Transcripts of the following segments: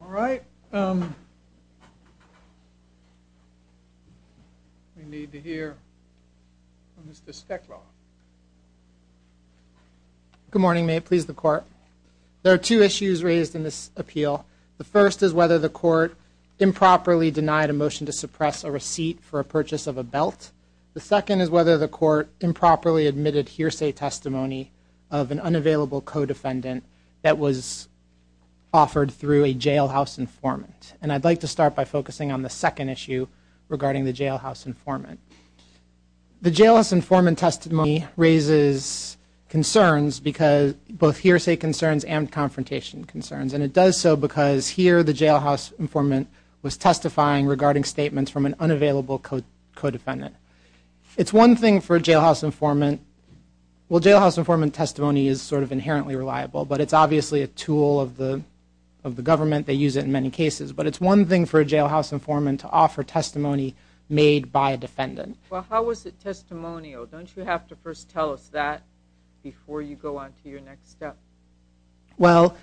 All right, we need to hear from Mr. Steklov. Good morning, may it please the court. There are two issues raised in this appeal. The first is whether the court improperly denied a motion to suppress a receipt for a purchase of a belt. The second is whether the court improperly admitted hearsay testimony of an unavailable co-defendant that was offered through a jailhouse informant. And I'd like to start by focusing on the second issue regarding the jailhouse informant. The jailhouse informant testimony raises concerns because, both hearsay concerns and confrontation concerns. And it does so because here the jailhouse informant was testifying regarding statements from an unavailable co-defendant. It's one thing for a jailhouse informant, well jailhouse informant testimony is sort of inherently reliable, but it's obviously a tool of the government, they use it in many cases. But it's one thing for a jailhouse informant to offer testimony made by a defendant. Well, how was it testimonial? Don't you have to first tell us that before you go on to your next step? Well,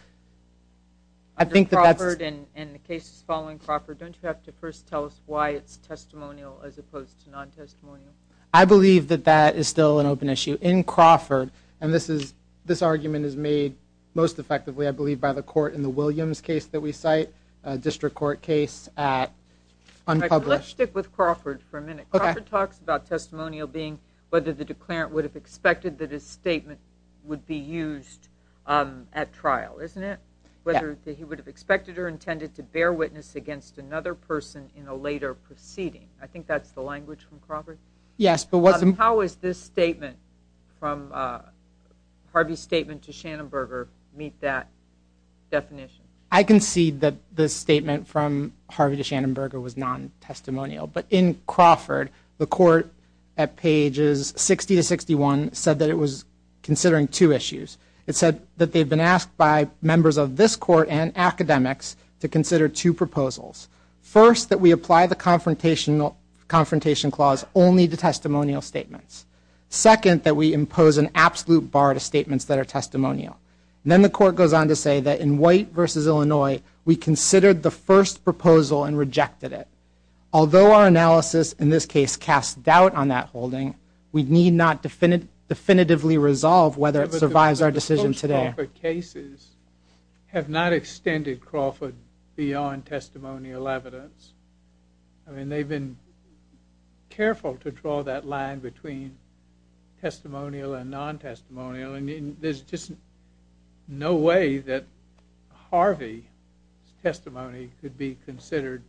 I think that's... Under Crawford and the cases following Crawford, don't you have to first tell us why it's testimonial as opposed to non-testimonial? I believe that that is still an open issue. In Crawford, and this argument is made most effectively, I believe, by the court in the Williams case that we cite, a district court case at unpublished. Let's stick with Crawford for a minute. Crawford talks about testimonial being whether the declarant would have expected that his statement would be used at trial, isn't it? Whether he would have expected or intended to bear witness against another person in a later proceeding. I think that's the language from Crawford? Yes, but what's... How is this statement from Harvey's statement to Schanenberger meet that definition? I concede that the statement from Harvey to Schanenberger was non-testimonial, but in Crawford, the court at pages 60 to 61 said that it was considering two issues. It said that they've been asked by members of this court and academics to consider two proposals. First, that we apply the confrontation clause only to testimonial statements. Second, that we impose an absolute bar to statements that are testimonial. Then the court goes on to say that in White v. Illinois, we considered the first proposal and rejected it. Although our analysis in this case casts doubt on that holding, we need not definitively resolve whether it survives our decision today. But cases have not extended Crawford beyond testimonial evidence. I mean, they've been careful to draw that line between testimonial and non-testimonial. I mean, there's just no way that Harvey's testimony could be considered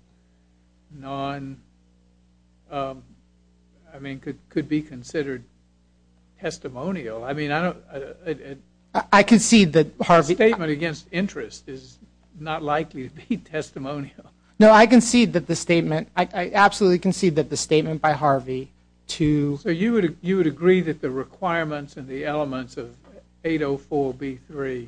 non... I mean, could be considered testimonial. I mean, I don't... I concede that Harvey... The statement against interest is not likely to be testimonial. No, I concede that the statement... I absolutely concede that the statement by Harvey to... So you would agree that the requirements and the elements of 804B3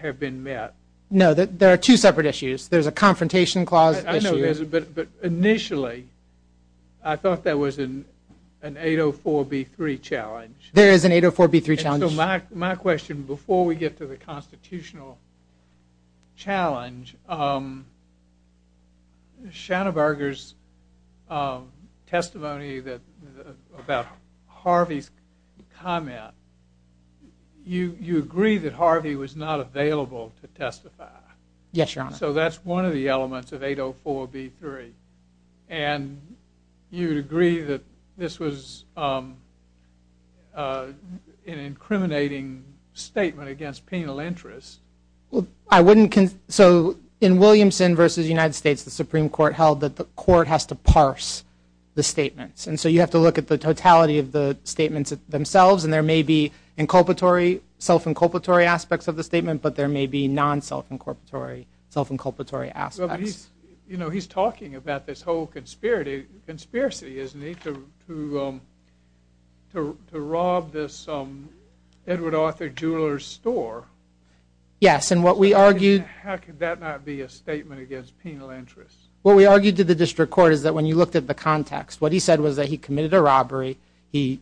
have been met? No, there are two separate issues. There's a confrontation clause issue... But initially, I thought there was an 804B3 challenge. There is an 804B3 challenge. So my question, before we get to the constitutional challenge, Schanenberger's testimony about Harvey's comment, you agree that Harvey was not available to testify? Yes, Your Honor. So that's one of the elements of 804B3. And you would agree that this was an incriminating statement against penal interest? Well, I wouldn't... So in Williamson v. United States, the Supreme Court held that the court has to parse the statements. And so you have to look at the totality of the statements themselves. And there may be inculpatory, self-inculpatory aspects of the statement, but there may be non-self-inculpatory aspects. You know, he's talking about this whole conspiracy, isn't he, to rob this Edward Arthur Jeweler's store. Yes, and what we argued... How could that not be a statement against penal interest? What we argued to the district court is that when you looked at the context, what he said was that he committed a robbery, he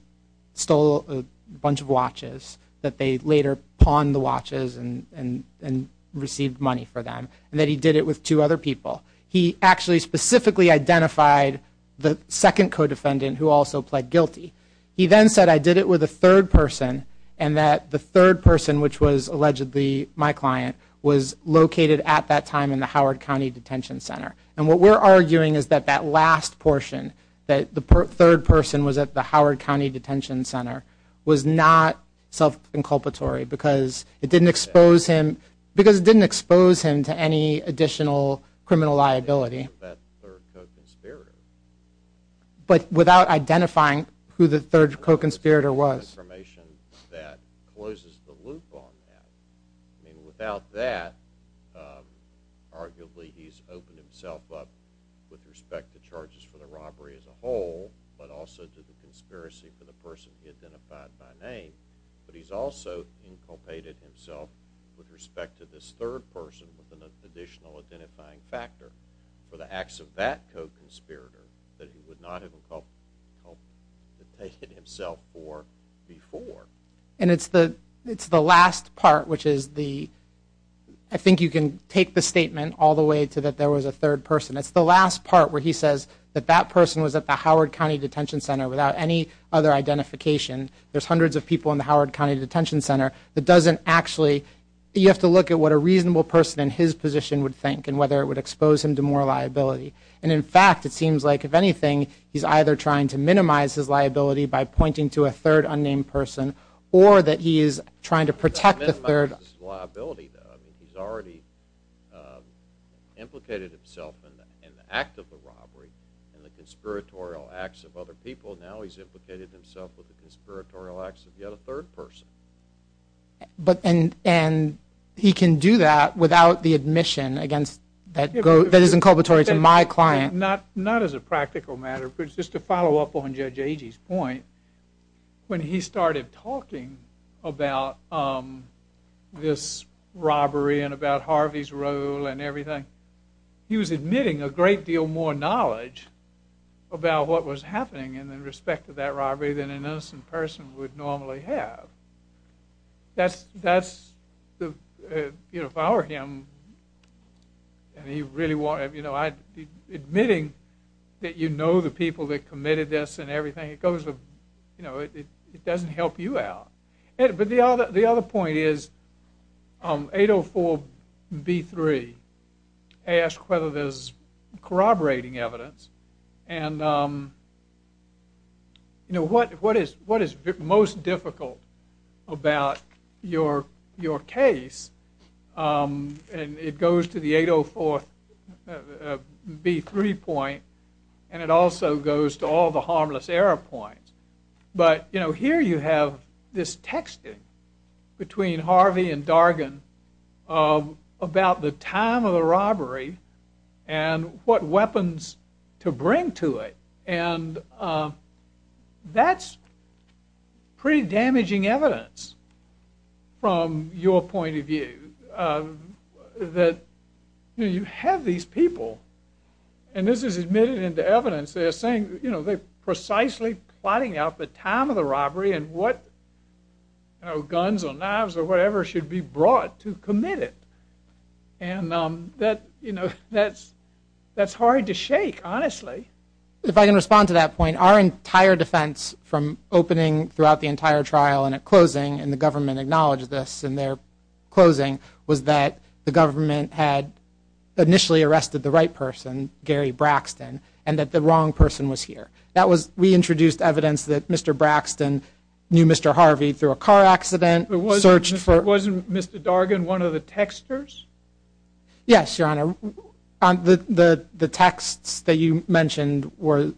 stole a bunch of watches, that they later pawned the watches and received money for them, and that he did it with two other people. He actually specifically identified the second co-defendant who also pled guilty. He then said, I did it with a third person, and that the third person, which was allegedly my client, was located at that time in the Howard County Detention Center. And what we're arguing is that that last portion, that the third person was at the Howard County Detention Center, was not self-inculpatory because it didn't expose him to any additional criminal liability. That third co-conspirator. But without identifying who the third co-conspirator was. Information that closes the loop on that. I mean, without that, arguably he's opened himself up with respect to charges for the robbery as a whole, but also to the conspiracy for the person he identified by name. But he's also inculpated himself with respect to this third person with an additional identifying factor for the acts of that co-conspirator that he would not have inculpated himself for before. And it's the last part, which is the... I think you can take the statement all the way to that there was a third person. It's the last part where he says that that person was at the Howard County Detention Center without any other identification. There's hundreds of people in the Howard County Detention Center that doesn't actually... You have to look at what a reasonable person in his position would think and whether it would expose him to more liability. And in fact, it seems like, if anything, he's either trying to minimize his liability by pointing to a third unnamed person or that he is trying to protect the third... He's already implicated himself in the act of the robbery and the conspiratorial acts of other people. Now he's implicated himself with the conspiratorial acts of yet a third person. And he can do that without the admission that is inculpatory to my client? Not as a practical matter, but just to follow up on Judge Agee's point, when he started talking about this robbery and about Harvey's role and everything, he was admitting a great deal more knowledge about what was happening in respect to that robbery than an innocent person would normally have. That's... If I were him, and he really wanted... Admitting that you know the people that committed this and everything, you know, it doesn't help you out. But the other point is 804b3 asked whether there's corroborating evidence. And, you know, what is most difficult about your case? And it goes to the 804b3 point, and it also goes to all the harmless error points. But, you know, here you have this texting between Harvey and Dargan about the time of the robbery and what weapons to bring to it. And that's pretty damaging evidence from your point of view. That, you know, you have these people, and this is admitted into evidence, they're saying, you know, they're precisely plotting out the time of the robbery and what guns or knives or whatever should be brought to commit it. And that, you know, that's hard to shake, honestly. If I can respond to that point, our entire defense from opening throughout the entire trial and at closing, and the government acknowledged this in their closing, was that the government had initially arrested the right person, Gary Braxton, and that the wrong person was here. That was, we introduced evidence that Mr. Braxton knew Mr. Harvey through a car accident. It wasn't Mr. Dargan, one of the texters? Yes, Your Honor. The texts that you mentioned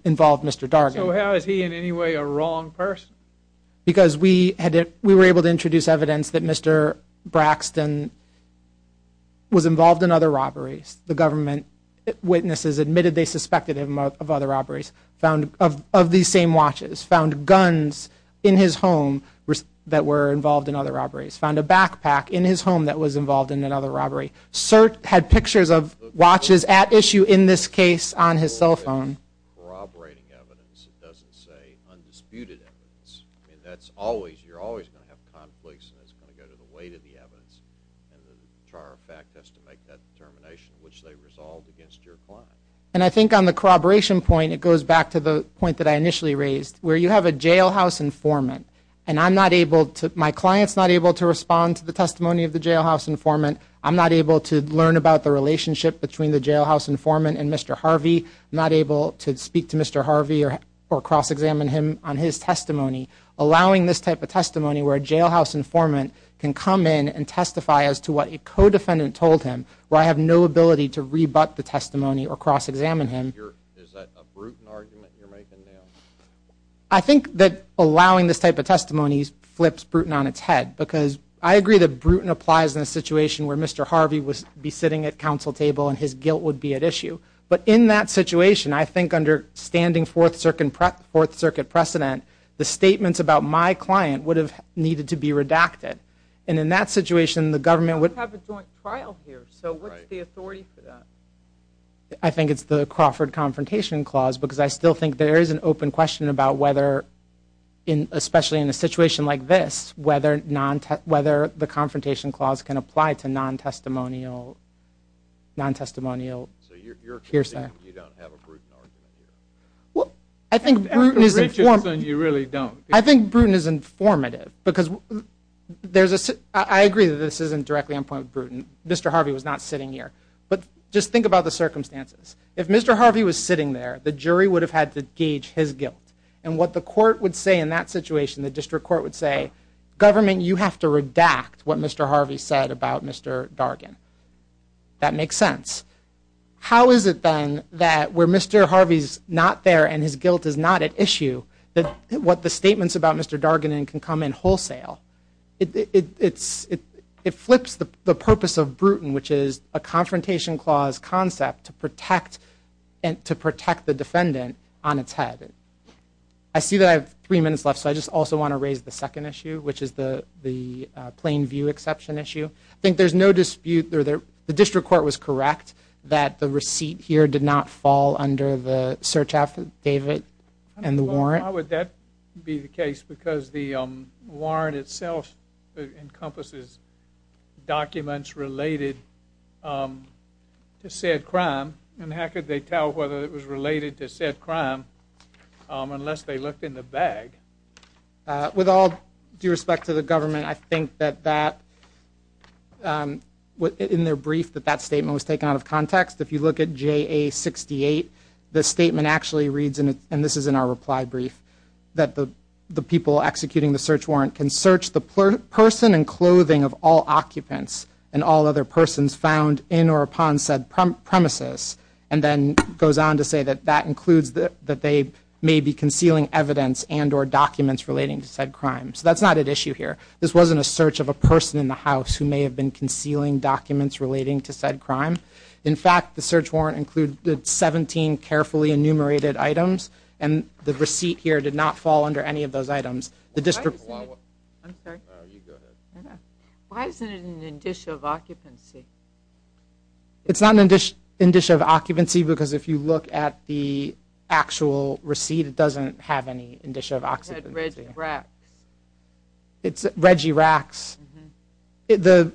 involved Mr. Dargan. So how is he in any way a wrong person? Because we were able to introduce evidence that Mr. Braxton was involved in other robberies. The government witnesses admitted they suspected him of other robberies, found of these same watches, found guns in his home that were involved in other robberies, found a backpack in his home that was involved in another robbery. SIRT had pictures of watches at issue in this case on his cell phone. Corroborating evidence, it doesn't say undisputed evidence. I mean, that's always, you're always going to have conflicts, and it's going to go to the weight of the evidence, and the entire fact has to make that determination, which they resolved against your client. And I think on the corroboration point, it goes back to the point that I initially raised, where you have a jailhouse informant, and I'm not able to, my client's not able to respond to the testimony of the jailhouse informant, I'm not able to learn about the relationship between the jailhouse informant and Mr. Harvey, I'm not able to speak to Mr. Harvey or cross-examine him on his testimony. Allowing this type of testimony, where a jailhouse informant can come in and testify as to what a co-defendant told him, where I have no ability to rebut the testimony or cross-examine him. Is that a Bruton argument you're making now? I think that allowing this type of testimony flips Bruton on its head, because I agree that Bruton applies in a situation where Mr. Harvey would be sitting at council table, and his guilt would be at issue. But in that situation, I think under standing Fourth Circuit precedent, the statements about my client would have needed to be redacted. And in that situation, the government would- You have a joint trial here, so what's the authority for that? I think it's the Crawford Confrontation Clause, because I still think there is an open question about whether, especially in a situation like this, non-testimonial hearsay. You don't have a Bruton argument here? Well, I think Bruton is informative. I think Bruton is informative, because there's a- I agree that this isn't directly on point with Bruton. Mr. Harvey was not sitting here. But just think about the circumstances. If Mr. Harvey was sitting there, the jury would have had to gauge his guilt. And what the court would say in that situation, the district court would say, Government, you have to redact what Mr. Harvey said about Mr. Dargan. That makes sense. How is it, then, that where Mr. Harvey's not there and his guilt is not at issue, that what the statements about Mr. Dargan can come in wholesale? It flips the purpose of Bruton, which is a Confrontation Clause concept to protect the defendant on its head. I see that I have three minutes left, so I just also want to raise the second issue, which is the Plain View Exception issue. I think there's no dispute- the district court was correct that the receipt here did not fall under the search affidavit and the warrant. Why would that be the case? Because the warrant itself encompasses documents related to said crime. And how could they tell whether it was related to said crime unless they looked in the bag? With all due respect to the government, I think that that- in their brief, that that statement was taken out of context. If you look at JA 68, the statement actually reads, and this is in our reply brief, that the people executing the search warrant can search the person and clothing of all occupants and all other persons found in or upon said premises, and then goes on to say that that includes that they may be concealing evidence and or documents relating to said crime. So that's not at issue here. This wasn't a search of a person in the house who may have been concealing documents relating to said crime. In fact, the search warrant included 17 carefully enumerated items, and the receipt here did not fall under any of those items. The district- Why isn't it- I'm sorry? No, you go ahead. Why isn't it an indicia of occupancy? It's not an indicia of occupancy because if you look at the actual receipt, it doesn't have any indicia of occupancy. It said Reggie Racks. It's Reggie Racks. The-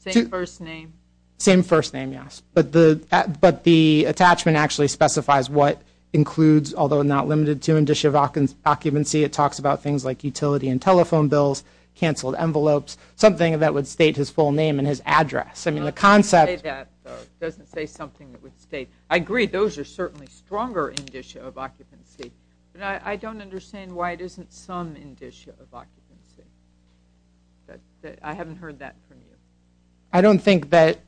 Same first name. Same first name, yes. But the attachment actually specifies what includes, although not limited to, indicia of occupancy. It talks about things like utility and telephone bills, canceled envelopes, something that would state his full name and his address. I mean, the concept- It doesn't say that, though. It doesn't say something that would state- I agree, those are certainly stronger indicia of occupancy, but I don't understand why it isn't some indicia of occupancy. I haven't heard that from you. I don't think that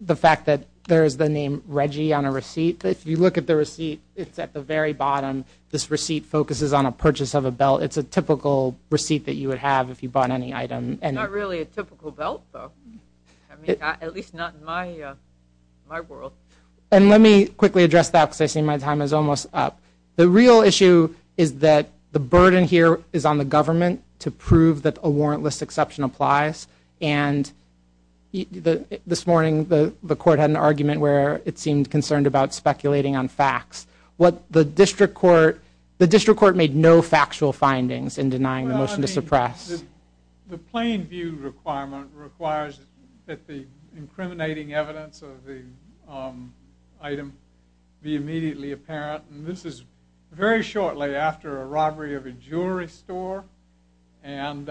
the fact that there is the name Reggie on a receipt, but if you look at the receipt, it's at the very bottom. This receipt focuses on a purchase of a belt. It's a typical receipt that you would have if you bought any item. It's not really a typical belt, though. I mean, at least not in my world. And let me quickly address that because I see my time is almost up. The real issue is that the burden here is on the government to prove that a warrantless exception applies. And this morning, the court had an argument where it seemed concerned about speculating on facts. What the district court- The district court made no factual findings in denying the motion to suppress. The plain view requirement requires that the incriminating evidence of the item be immediately apparent. And this is very shortly after a robbery of a jewelry store and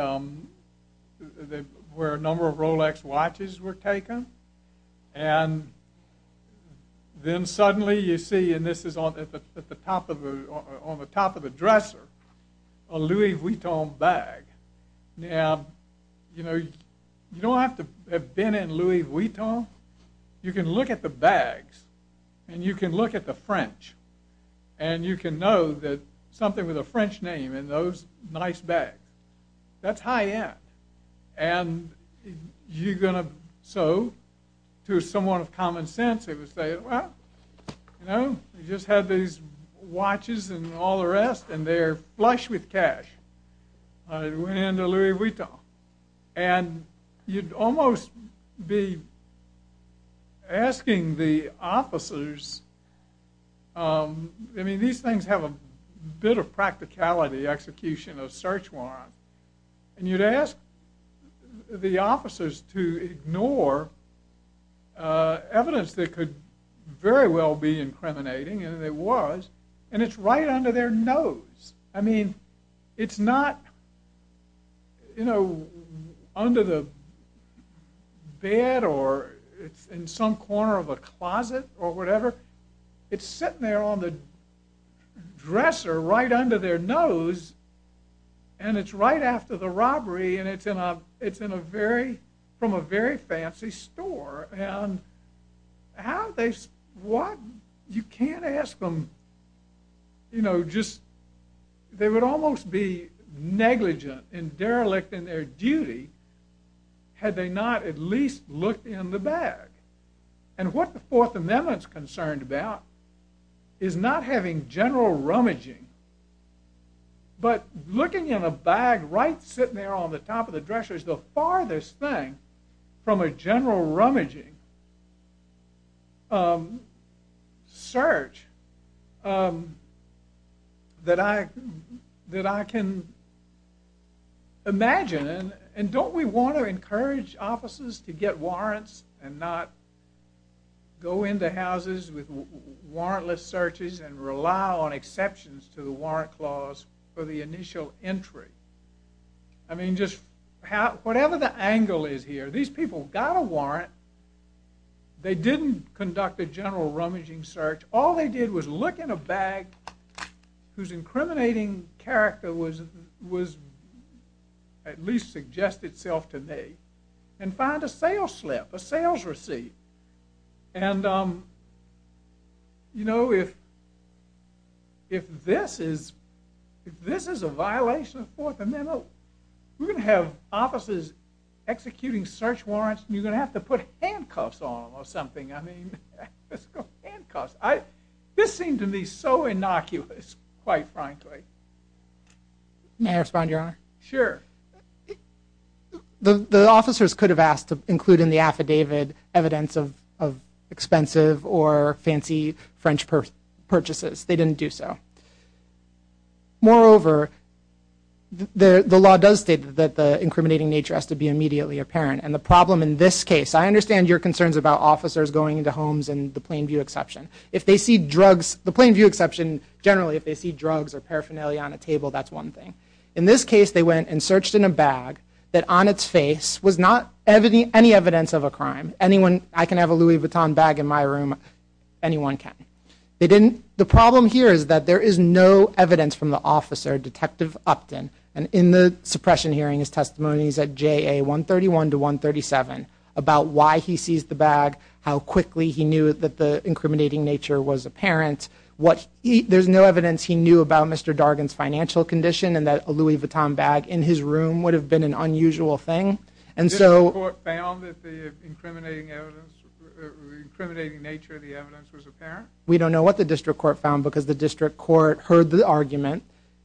where a number of Rolex watches were taken. And then suddenly you see, and this is on the top of a dresser, a Louis Vuitton bag. Now, you know, you don't have to have been in Louis Vuitton. You can look at the bags, and you can look at the French, and you can know that something with a French name in those nice bags. That's high end. And you're going to- So, to someone of common sense, it would say, well, you know, you just had these watches and all the rest, and they're flush with cash. It went into Louis Vuitton. And you'd almost be asking the officers- I mean, these things have a bit of practicality, execution of search warrant. And you'd ask the officers to ignore evidence that could very well be incriminating, and it was. And it's right under their nose. I mean, it's not, you know, under the bed or it's in some corner of a closet or whatever. It's sitting there on the dresser right under their nose. And it's right after the robbery, and it's from a very fancy store. And how they- You can't ask them, you know, just- They would almost be negligent and derelict in their duty had they not at least looked in the bag. And what the Fourth Amendment's concerned about is not having general rummaging, but looking in a bag right sitting there on the top of the dresser is the farthest thing from a general rummaging search that I can imagine. And don't we want to encourage officers to get warrants and not go into houses with warrantless searches and rely on exceptions to the warrant clause for the initial entry? I mean, just- Whatever the angle is here, these people got a warrant. They didn't conduct a general rummaging search. All they did was look in a bag whose incriminating character was- at least suggests itself to me, and find a sales slip, a sales receipt. And, you know, if this is a violation of the Fourth Amendment, we're going to have officers executing search warrants, and you're going to have to put handcuffs on them or something. I mean, handcuffs. This seemed to me so innocuous, quite frankly. May I respond, Your Honor? Sure. The officers could have asked to include in the affidavit evidence of expensive or fancy French purchases. They didn't do so. Moreover, the law does state that the incriminating nature has to be immediately apparent. And the problem in this case- I understand your concerns about officers going into homes and the plain view exception. If they see drugs- the plain view exception, generally, if they see drugs or paraphernalia on a table, that's one thing. In this case, they went and searched in a bag that on its face was not any evidence of a crime. Anyone- I can have a Louis Vuitton bag in my room. Anyone can. They didn't- the problem here is that there is no evidence from the officer, Detective Upton, and in the suppression hearing, his testimony is at JA 131 to 137, about why he seized the bag, how quickly he knew that the incriminating nature was apparent, what- there's no evidence he knew about Mr. Dargan's financial condition, and that a Louis Vuitton bag in his room would have been an unusual thing. And so- The district court found that the incriminating nature of the evidence was apparent? We don't know what the district court found, because the district court heard the argument,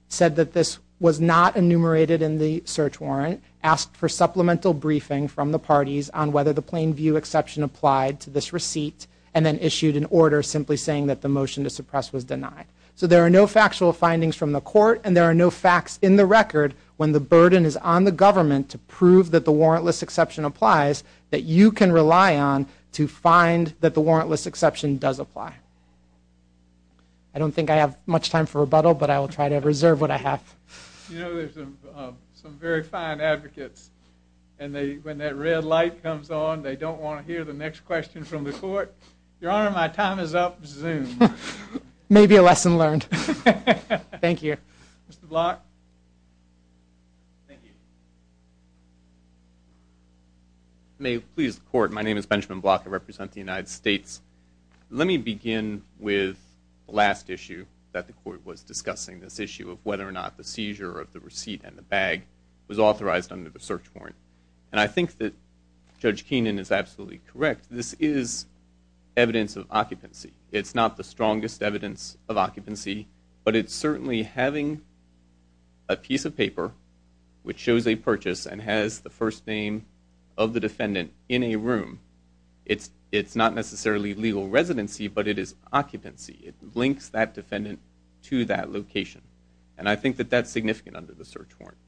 said that this was not enumerated in the search warrant, asked for supplemental briefing from the parties on whether the plain view exception applied to this receipt, and then issued an order simply saying that the motion to suppress was denied. So there are no factual findings from the court, and there are no facts in the record when the burden is on the government to prove that the warrantless exception applies, that you can rely on to find that the warrantless exception does apply. I don't think I have much time for rebuttal, but I will try to reserve what I have. You know, there's some very fine advocates, and when that red light comes on, they don't want to hear the next question from the court. Your Honor, my time is up. Zoom. Maybe a lesson learned. Thank you. Mr. Block? Thank you. May it please the court, my name is Benjamin Block, I represent the United States. Let me begin with the last issue that the court was discussing, this issue of whether or not the seizure of the receipt and the bag was authorized under the search warrant. And I think that Judge Keenan is absolutely correct. This is evidence of occupancy. It's not the strongest evidence of occupancy, but it's certainly having a piece of paper which shows a purchase and has the first name of the defendant in a room. It's not necessarily legal residency, but it is occupancy. It links that defendant to that location. And I think that that's significant under the search warrant.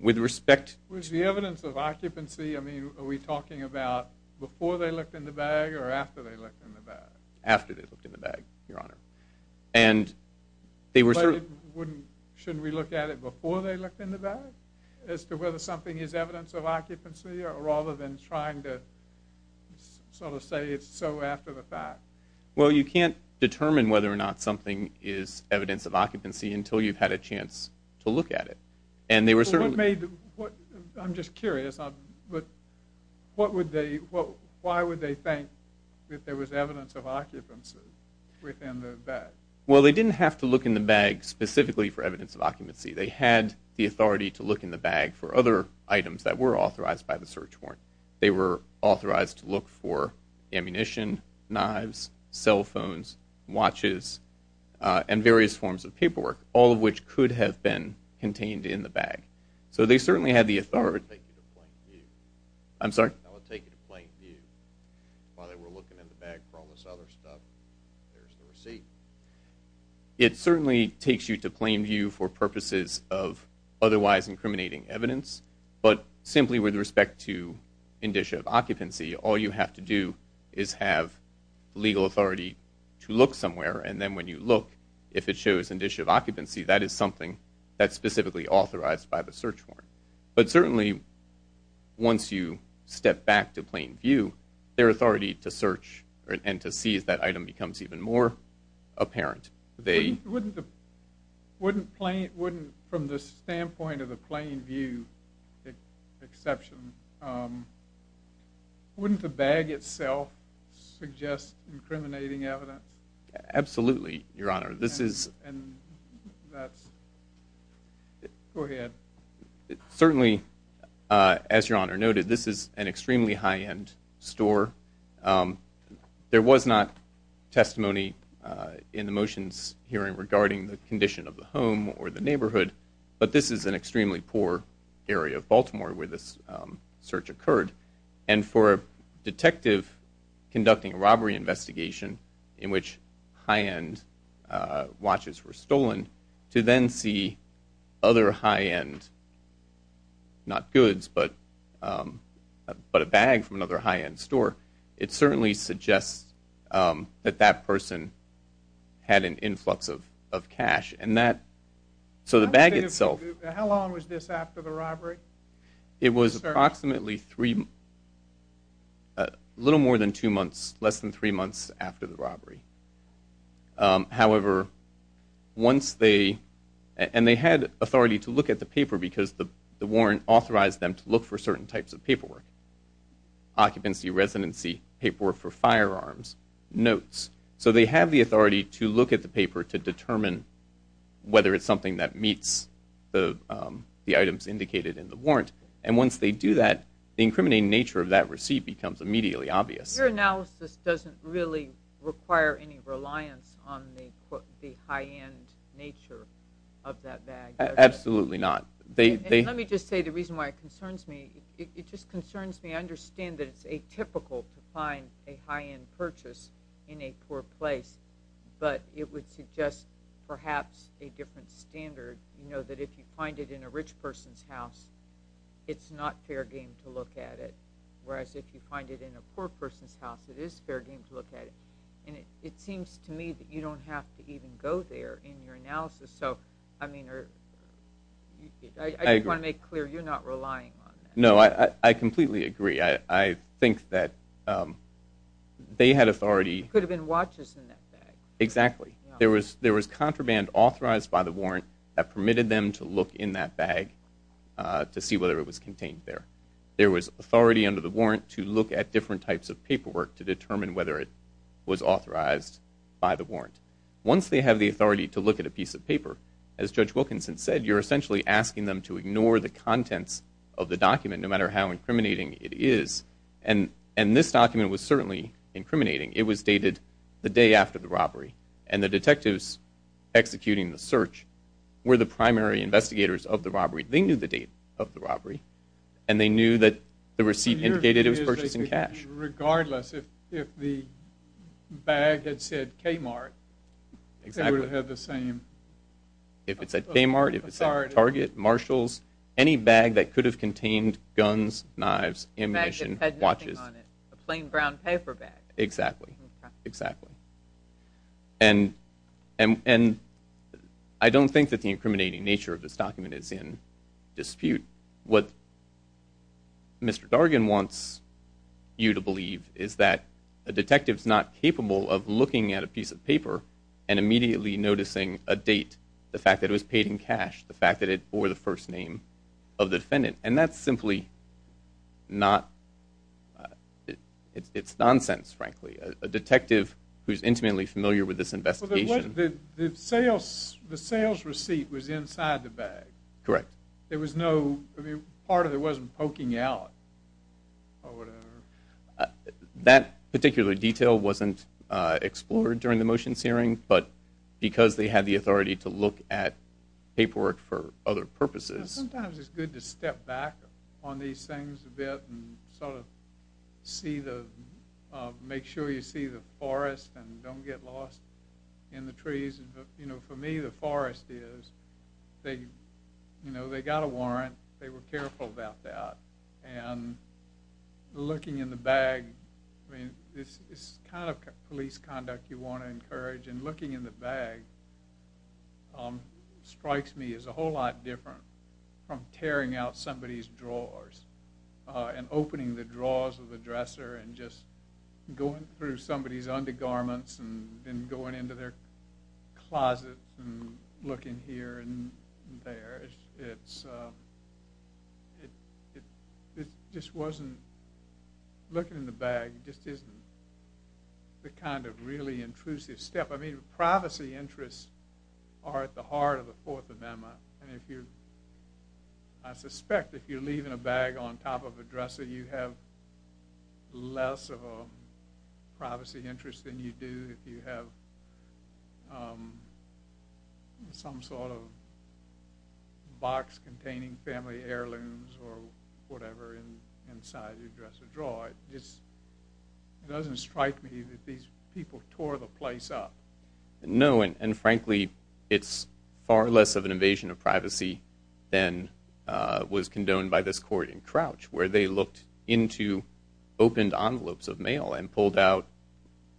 With respect... Was the evidence of occupancy, I mean, are we talking about before they looked in the bag or after they looked in the bag? After they looked in the bag, Your Honor. And they were... Shouldn't we look at it before they looked in the bag? As to whether something is evidence of occupancy, or rather than trying to sort of say it's so after the fact? Well, you can't determine whether or not something is evidence of occupancy until you've had a chance to look at it. And they were certainly... I'm just curious, but why would they think that there was evidence of occupancy within the bag? Well, they didn't have to look in the bag specifically for evidence of occupancy. They had the authority to look in the bag for other items that were authorized by the search warrant. They were authorized to look for ammunition, knives, cell phones, watches, and various forms of paperwork, all of which could have been contained in the bag. So they certainly had the authority... I'll take it to plain view. I'm sorry? I'll take it to plain view. While they were looking in the bag for all this other stuff, there's the receipt. It certainly takes you to plain view for purposes of otherwise incriminating evidence. But simply with respect to indicia of occupancy, all you have to do is have legal authority to look somewhere. And then when you look, if it shows indicia of occupancy, that is something that's specifically authorized by the search warrant. But certainly, once you step back to plain view, their authority to search and to seize that item becomes even more apparent. They... Wouldn't the... Wouldn't from the standpoint of the plain view exception... Wouldn't the bag itself suggest incriminating evidence? Absolutely, Your Honor. This is... And that's... Go ahead. Certainly, as Your Honor noted, this is an extremely high-end store. There was not testimony in the motions hearing regarding the condition of the home or the neighborhood, but this is an extremely poor area of Baltimore where this search occurred. And for a detective conducting a robbery investigation in which high-end watches were stolen, to then see other high-end, not goods, but a bag from another high-end store, it certainly suggests that that person had an influx of cash. And that... So the bag itself... It was approximately three... A little more than two months, less than three months after the robbery. However, once they... And they had authority to look at the paper because the warrant authorized them to look for certain types of paperwork. Occupancy, residency, paperwork for firearms, notes. So they have the authority to look at the paper to determine whether it's something that meets the items indicated in the warrant. And once they do that, the incriminating nature of that receipt becomes immediately obvious. Your analysis doesn't really require any reliance on the high-end nature of that bag, does it? Absolutely not. Let me just say the reason why it concerns me. It just concerns me. I understand that it's atypical to find a high-end purchase in a poor place, but it would suggest perhaps a different standard. You know, that if you find it in a rich person's house, it's not fair game to look at it. Whereas if you find it in a poor person's house, it is fair game to look at it. And it seems to me that you don't have to even go there in your analysis. So, I mean, I just want to make clear you're not relying on that. No, I completely agree. I think that they had authority... Exactly. There was contraband authorized by the warrant that permitted them to look in that bag to see whether it was contained there. There was authority under the warrant to look at different types of paperwork to determine whether it was authorized by the warrant. Once they have the authority to look at a piece of paper, as Judge Wilkinson said, you're essentially asking them to ignore the contents of the document, no matter how incriminating it is. And this document was certainly incriminating. It was dated the day after the robbery, and the detectives executing the search were the primary investigators of the robbery. They knew the date of the robbery, and they knew that the receipt indicated it was purchased in cash. Regardless, if the bag had said Kmart, they would have the same authority. If it said Kmart, if it said Target, Marshalls, any bag that could have contained guns, knives, ammunition, watches. A bag that had nothing on it, a plain brown paper bag. Exactly. Exactly. And I don't think that the incriminating nature of this document is in dispute. What Mr. Dargan wants you to believe is that a detective is not capable of looking at a piece of paper and immediately noticing a date, the fact that it was paid in cash, the fact that it bore the first name of the defendant. And that's simply not, it's nonsense, frankly. A detective who's intimately familiar with this investigation. The sales receipt was inside the bag. Correct. There was no, part of it wasn't poking out or whatever. That particular detail wasn't explored during the motions hearing, but because they had the authority to look at paperwork for other purposes. Sometimes it's good to step back on these things a bit and sort of see the, make sure you see the forest and don't get lost in the trees. For me, the forest is, they got a warrant. They were careful about that. And looking in the bag, I mean, it's the kind of police conduct you want to encourage. And looking in the bag strikes me as a whole lot different from tearing out somebody's drawers and opening the drawers of the dresser and just going through somebody's undergarments and going into their closet and looking here and there. It just wasn't, looking in the bag just isn't the kind of really intrusive step. I mean, privacy interests are at the heart of the Fourth Amendment. I suspect if you're leaving a bag on top of a dresser, you have less of a privacy interest than you do if you have some sort of box containing family heirlooms or whatever inside your dresser drawer. It doesn't strike me that these people tore the place up. No, and frankly, it's far less of an invasion of privacy than was condoned by this court in Crouch where they looked into opened envelopes of mail and pulled out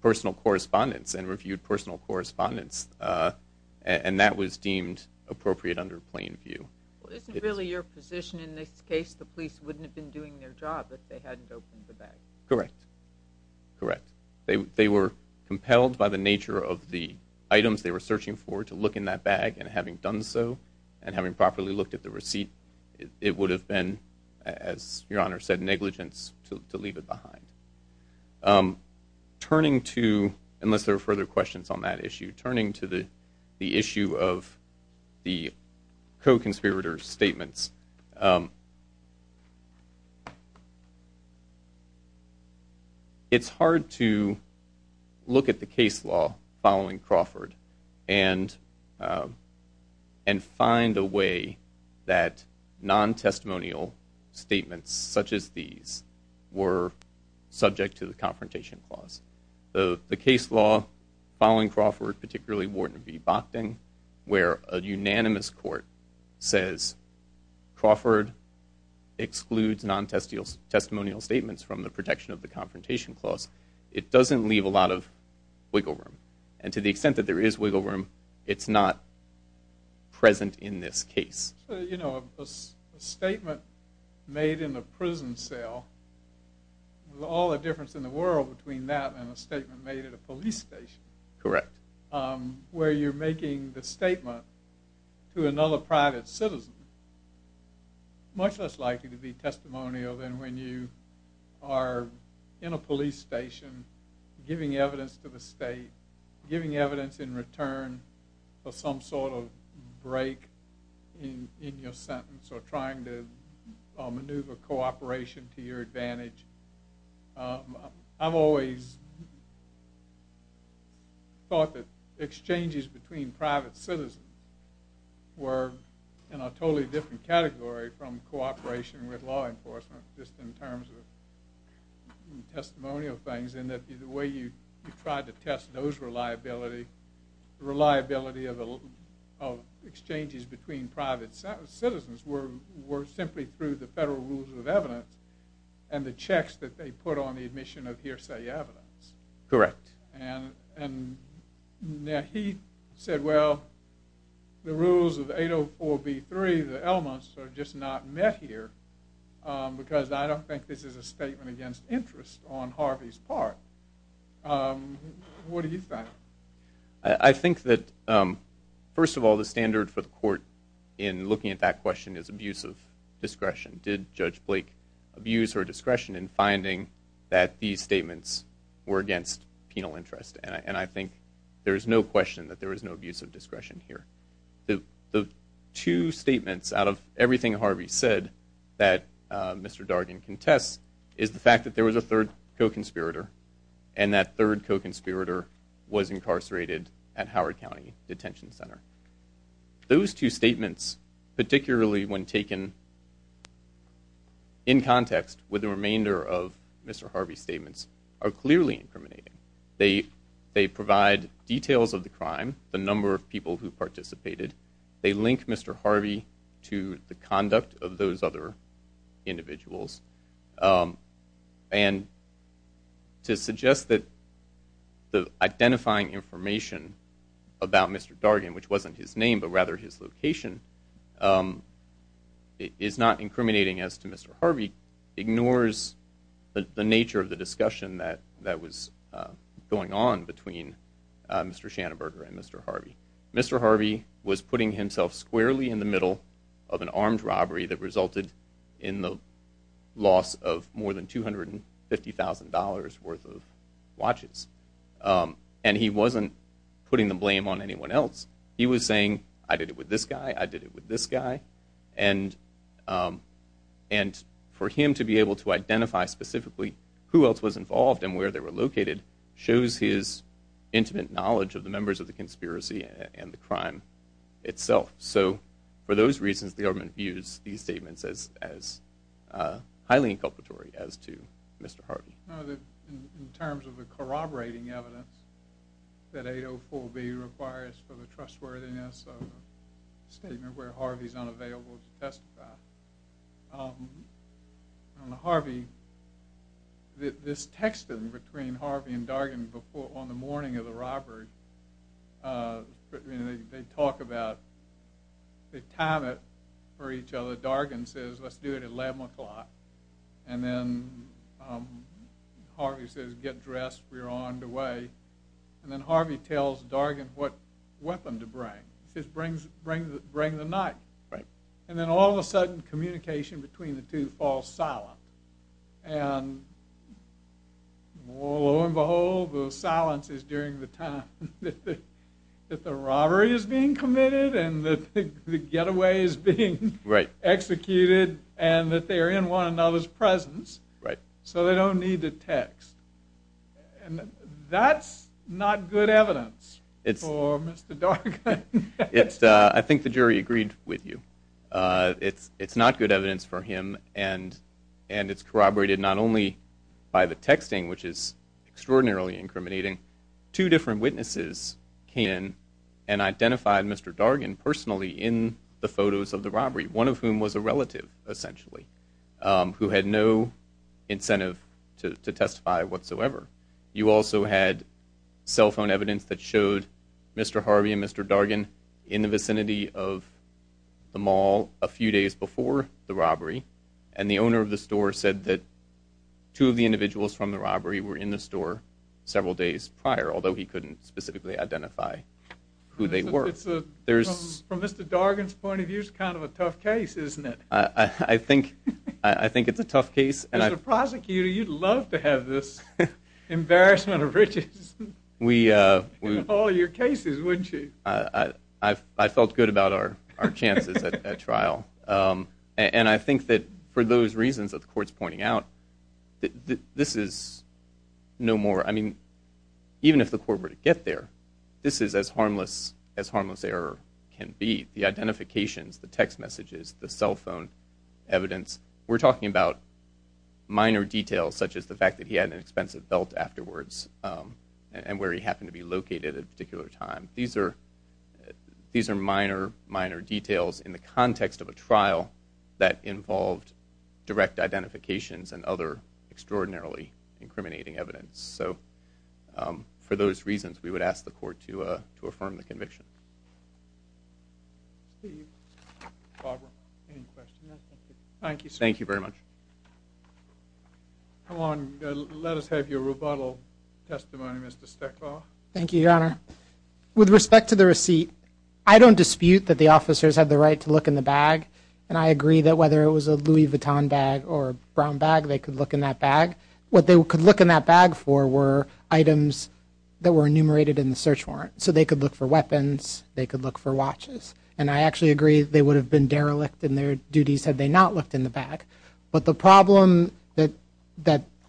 personal correspondence and reviewed personal correspondence. And that was deemed appropriate under plain view. Isn't really your position in this case the police wouldn't have been doing their job if they hadn't opened the bag? Correct, correct. They were compelled by the nature of the items they were searching for to look in that bag, and having done so and having properly looked at the receipt, it would have been, as Your Honor said, negligence to leave it behind. Turning to, unless there are further questions on that issue, turning to the issue of the co-conspirator statements, it's hard to look at the case law following Crawford and find a way that non-testimonial statements such as these were subject to the Confrontation Clause. The case law following Crawford, particularly Wharton v. Bochting, where a unanimous court says Crawford excludes non-testimonial statements from the protection of the Confrontation Clause, it doesn't leave a lot of wiggle room. And to the extent that there is wiggle room, it's not present in this case. You know, a statement made in a prison cell, with all the difference in the world between that and a statement made at a police station, where you're making the statement to another private citizen, much less likely to be testimonial than when you are in a police station giving evidence to the state, giving evidence in return for some sort of break in your sentence or trying to maneuver cooperation to your advantage. I've always thought that exchanges between private citizens were in a totally different category from cooperation with law enforcement, just in terms of testimonial things, in that the way you tried to test those reliability, the reliability of exchanges between private citizens were simply through the federal rules of evidence and the checks that they put on the admission of hearsay evidence. Correct. And he said, well, the rules of 804b3, the elements are just not met here, because I don't think this is a statement against interest on Harvey's part. What do you think? I think that, first of all, the standard for the court in looking at that question is abuse of discretion. Did Judge Blake abuse her discretion in finding that these statements were against penal interest? And I think there is no question that there is no abuse of discretion here. The two statements out of everything Harvey said that Mr. Dargan contests is the fact that there was a third co-conspirator, and that third co-conspirator was incarcerated at Howard County Detention Center. Those two statements, particularly when taken in context with the remainder of Mr. Harvey's statements, are clearly incriminating. They provide details of the crime, the number of people who participated. They link Mr. Harvey to the conduct of those other individuals. And to suggest that the identifying information about Mr. Dargan, which wasn't his name, but rather his location, is not incriminating as to Mr. Harvey ignores the nature of the discussion that was going on between Mr. Schanenberger and Mr. Harvey. Mr. Harvey was putting himself squarely in the middle of an armed robbery that resulted in the loss of more than $250,000 worth of watches. And he wasn't putting the blame on anyone else. He was saying, I did it with this guy, I did it with this guy. And for him to be able to identify specifically who else was involved and where they were located shows his intimate knowledge of the members of the conspiracy and the crime itself. So for those reasons, the government views these statements as highly inculpatory as to Mr. Harvey. In terms of the corroborating evidence that 804B requires for the trustworthiness of a statement where Harvey's unavailable to testify, Harvey, this texting between Harvey and Dargan on the morning of the robbery, they talk about, they time it for each other. Dargan says, let's do it at 11 o'clock. And then Harvey says, get dressed, we're on the way. And then Harvey tells Dargan what weapon to bring. He says, bring the knife. And then all of a sudden, communication between the two falls silent. And lo and behold, the silence is during the time that the robbery is being committed and the getaway is being executed and that they are in one another's presence so they don't need to text. That's not good evidence for Mr. Dargan. I think the jury agreed with you. It's not good evidence for him. And it's corroborated not only by the texting, which is extraordinarily incriminating, two different witnesses came in and identified Mr. Dargan personally in the photos of the robbery, one of whom was a relative, essentially, who had no incentive to testify whatsoever. You also had cell phone evidence that showed Mr. Harvey and Mr. Dargan in the vicinity of the mall a few days before the robbery, and the owner of the store said that two of the individuals from the robbery were in the store several days prior, although he couldn't specifically identify who they were. From Mr. Dargan's point of view, it's kind of a tough case, isn't it? I think it's a tough case. As a prosecutor, you'd love to have this embarrassment of riches in all your cases, wouldn't you? I felt good about our chances at trial. And I think that for those reasons that the court's pointing out, this is no more... I mean, even if the court were to get there, this is as harmless as harmless error can be. The identifications, the text messages, the cell phone evidence, we're talking about minor details, such as the fact that he had an expensive belt afterwards and where he happened to be located at a particular time. These are minor, minor details in the context of a trial that involved direct identifications and other extraordinarily incriminating evidence. So for those reasons, we would ask the court to affirm the conviction. Barbara, any questions? Thank you, sir. Thank you very much. Come on, let us have your rebuttal testimony, Mr. Steklov. Thank you, Your Honor. With respect to the receipt, I don't dispute that the officers had the right to look in the bag, and I agree that whether it was a Louis Vuitton bag or a brown bag, they could look in that bag. What they could look in that bag for were items that were enumerated in the search warrant. So they could look for weapons, they could look for watches. And I actually agree they would have been derelict in their duties had they not looked in the bag. But the problem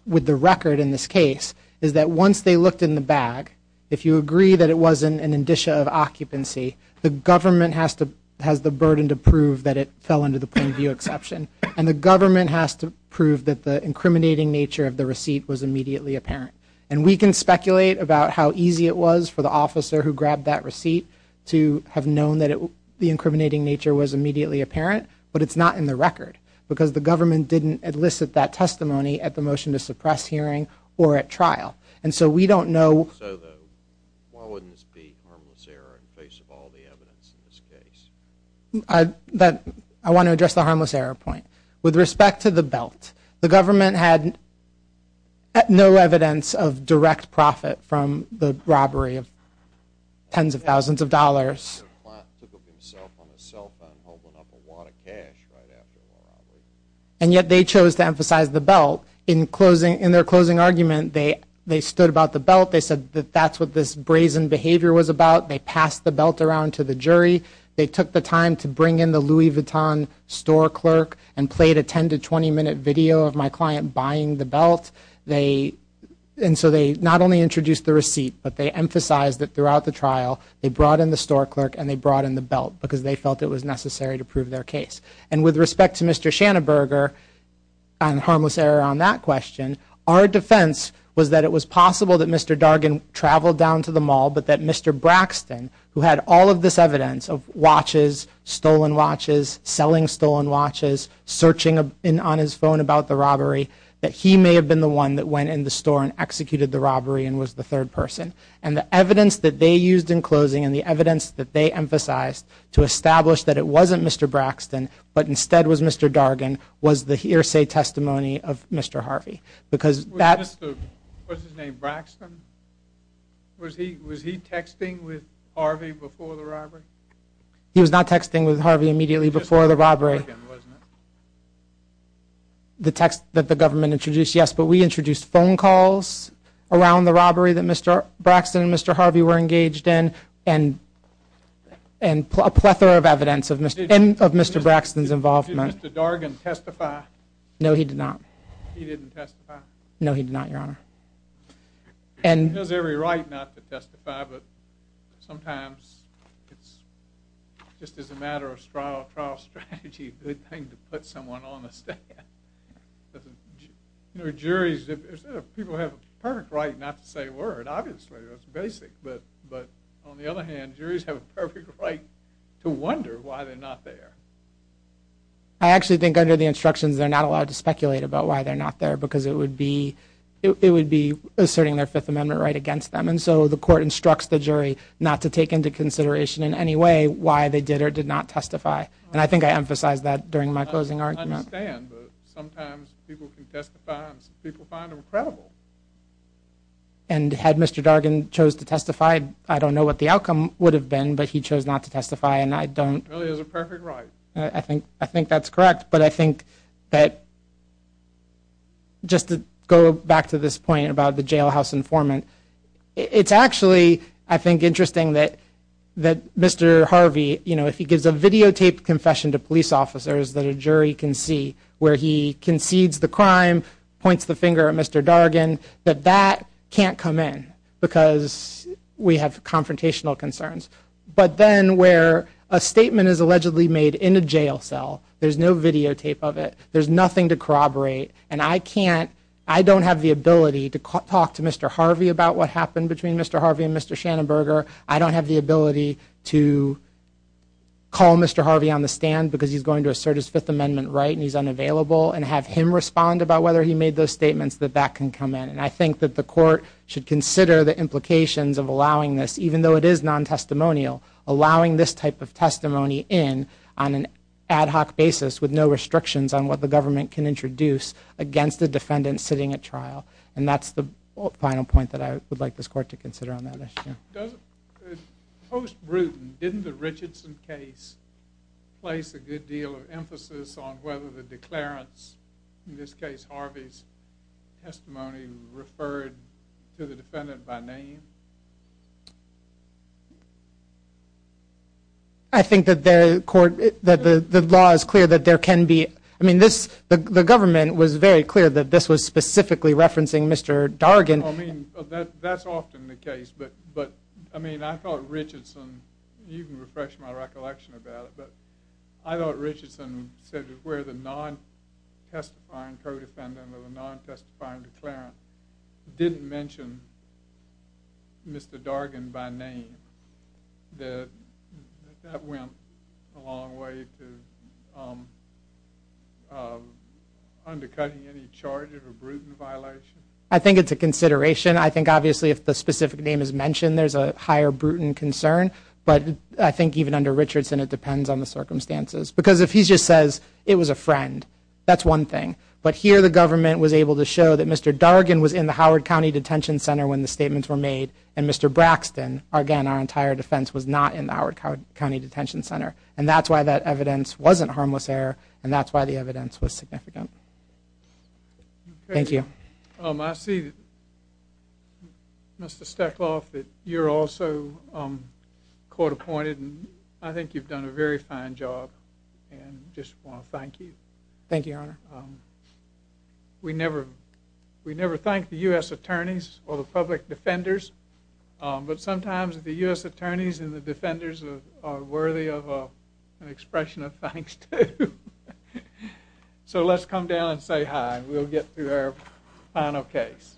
with the record in this case is that once they looked in the bag, if you agree that it wasn't an indicia of occupancy, the government has the burden to prove that it fell under the point of view exception, and the government has to prove that the incriminating nature of the receipt was immediately apparent. And we can speculate about how easy it was for the officer who grabbed that receipt to have known that the incriminating nature was immediately apparent, but it's not in the record, because the government didn't elicit that testimony at the motion to suppress hearing or at trial. And so we don't know... So though, why wouldn't this be harmless error in the face of all the evidence in this case? I want to address the harmless error point. With respect to the belt, the government had no evidence of direct profit from the robbery of tens of thousands of dollars. The client took of himself on a cell phone holding up a wad of cash right after the robbery. And yet they chose to emphasize the belt. In their closing argument, they stood about the belt. They said that that's what this brazen behavior was about. They passed the belt around to the jury. They took the time to bring in the Louis Vuitton store clerk and played a 10- to 20-minute video of my client buying the belt. And so they not only introduced the receipt, but they emphasized that throughout the trial they brought in the store clerk and they brought in the belt because they felt it was necessary to prove their case. And with respect to Mr. Schanenberger and the harmless error on that question, our defense was that it was possible that Mr. Dargan traveled down to the mall, but that Mr. Braxton, who had all of this evidence of watches, stolen watches, selling stolen watches, searching on his phone about the robbery, that he may have been the one that went in the store and executed the robbery and was the third person. And the evidence that they used in closing and the evidence that they emphasized to establish that it wasn't Mr. Braxton, but instead was Mr. Dargan, was the hearsay testimony of Mr. Harvey. Was his name Braxton? Was he texting with Harvey before the robbery? He was not texting with Harvey immediately before the robbery. But we introduced phone calls around the robbery that Mr. Braxton and Mr. Harvey were engaged in and a plethora of evidence of Mr. Braxton's involvement. Did Mr. Dargan testify? No, he did not. He didn't testify? No, he did not, Your Honor. He has every right not to testify, but sometimes it's just as a matter of trial strategy, a good thing to put someone on the stand. Juries, people have a perfect right not to say a word, obviously, that's basic. But on the other hand, juries have a perfect right to wonder why they're not there. I actually think under the instructions they're not allowed to speculate about why they're not there because it would be asserting their Fifth Amendment right against them. And so the court instructs the jury not to take into consideration in any way why they did or did not testify. And I think I emphasized that during my closing argument. I understand, but sometimes people can testify and some people find them credible. And had Mr. Dargan chose to testify, I don't know what the outcome would have been, but he chose not to testify, and I don't... It really is a perfect right. I think that's correct, but I think that just to go back to this point about the jailhouse informant, it's actually, I think, interesting that Mr. Harvey, you know, if he gives a videotaped confession to police officers that a jury can see, where he concedes the crime, points the finger at Mr. Dargan, that that can't come in because we have confrontational concerns. But then where a statement is allegedly made in a jail cell, there's no videotape of it, there's nothing to corroborate, and I can't, I don't have the ability to talk to Mr. Harvey about what happened between Mr. Harvey and Mr. Shannenberger. I don't have the ability to call Mr. Harvey on the stand because he's going to assert his Fifth Amendment right and he's unavailable, and have him respond about whether he made those statements that that can come in. And I think that the court should consider the implications of allowing this, even though it is non-testimonial, allowing this type of testimony in on an ad hoc basis with no restrictions on what the government can introduce against a defendant sitting at trial. And that's the final point that I would like this court to consider on that issue. Post-Bruton, didn't the Richardson case place a good deal of emphasis on whether the declarants, in this case Harvey's testimony, referred to the defendant by name? I think that the law is clear that there can be, I mean, the government was very clear that this was specifically referencing Mr. Dargan. Well, I mean, that's often the case, but, I mean, I thought Richardson, you can refresh my recollection about it, but I thought Richardson said that where the non-testifying co-defendant or the non-testifying declarant didn't mention Mr. Dargan by name, that that went a long way to undercutting any charges or Bruton violations. I think it's a consideration. I think, obviously, if the specific name is mentioned, there's a higher Bruton concern, but I think even under Richardson, it depends on the circumstances. Because if he just says, it was a friend, that's one thing. But here the government was able to show that Mr. Dargan was in the Howard County Detention Center when the statements were made, and Mr. Braxton, again, our entire defense, was not in the Howard County Detention Center. And that's why that evidence wasn't harmless error, and that's why the evidence was significant. Thank you. I see, Mr. Steckloff, that you're also court-appointed, and I think you've done a very fine job, and just want to thank you. Thank you, Your Honor. We never thank the U.S. attorneys or the public defenders, but sometimes the U.S. attorneys and the defenders are worthy of an expression of thanks, too. So let's come down and say hi, and we'll get through our final case.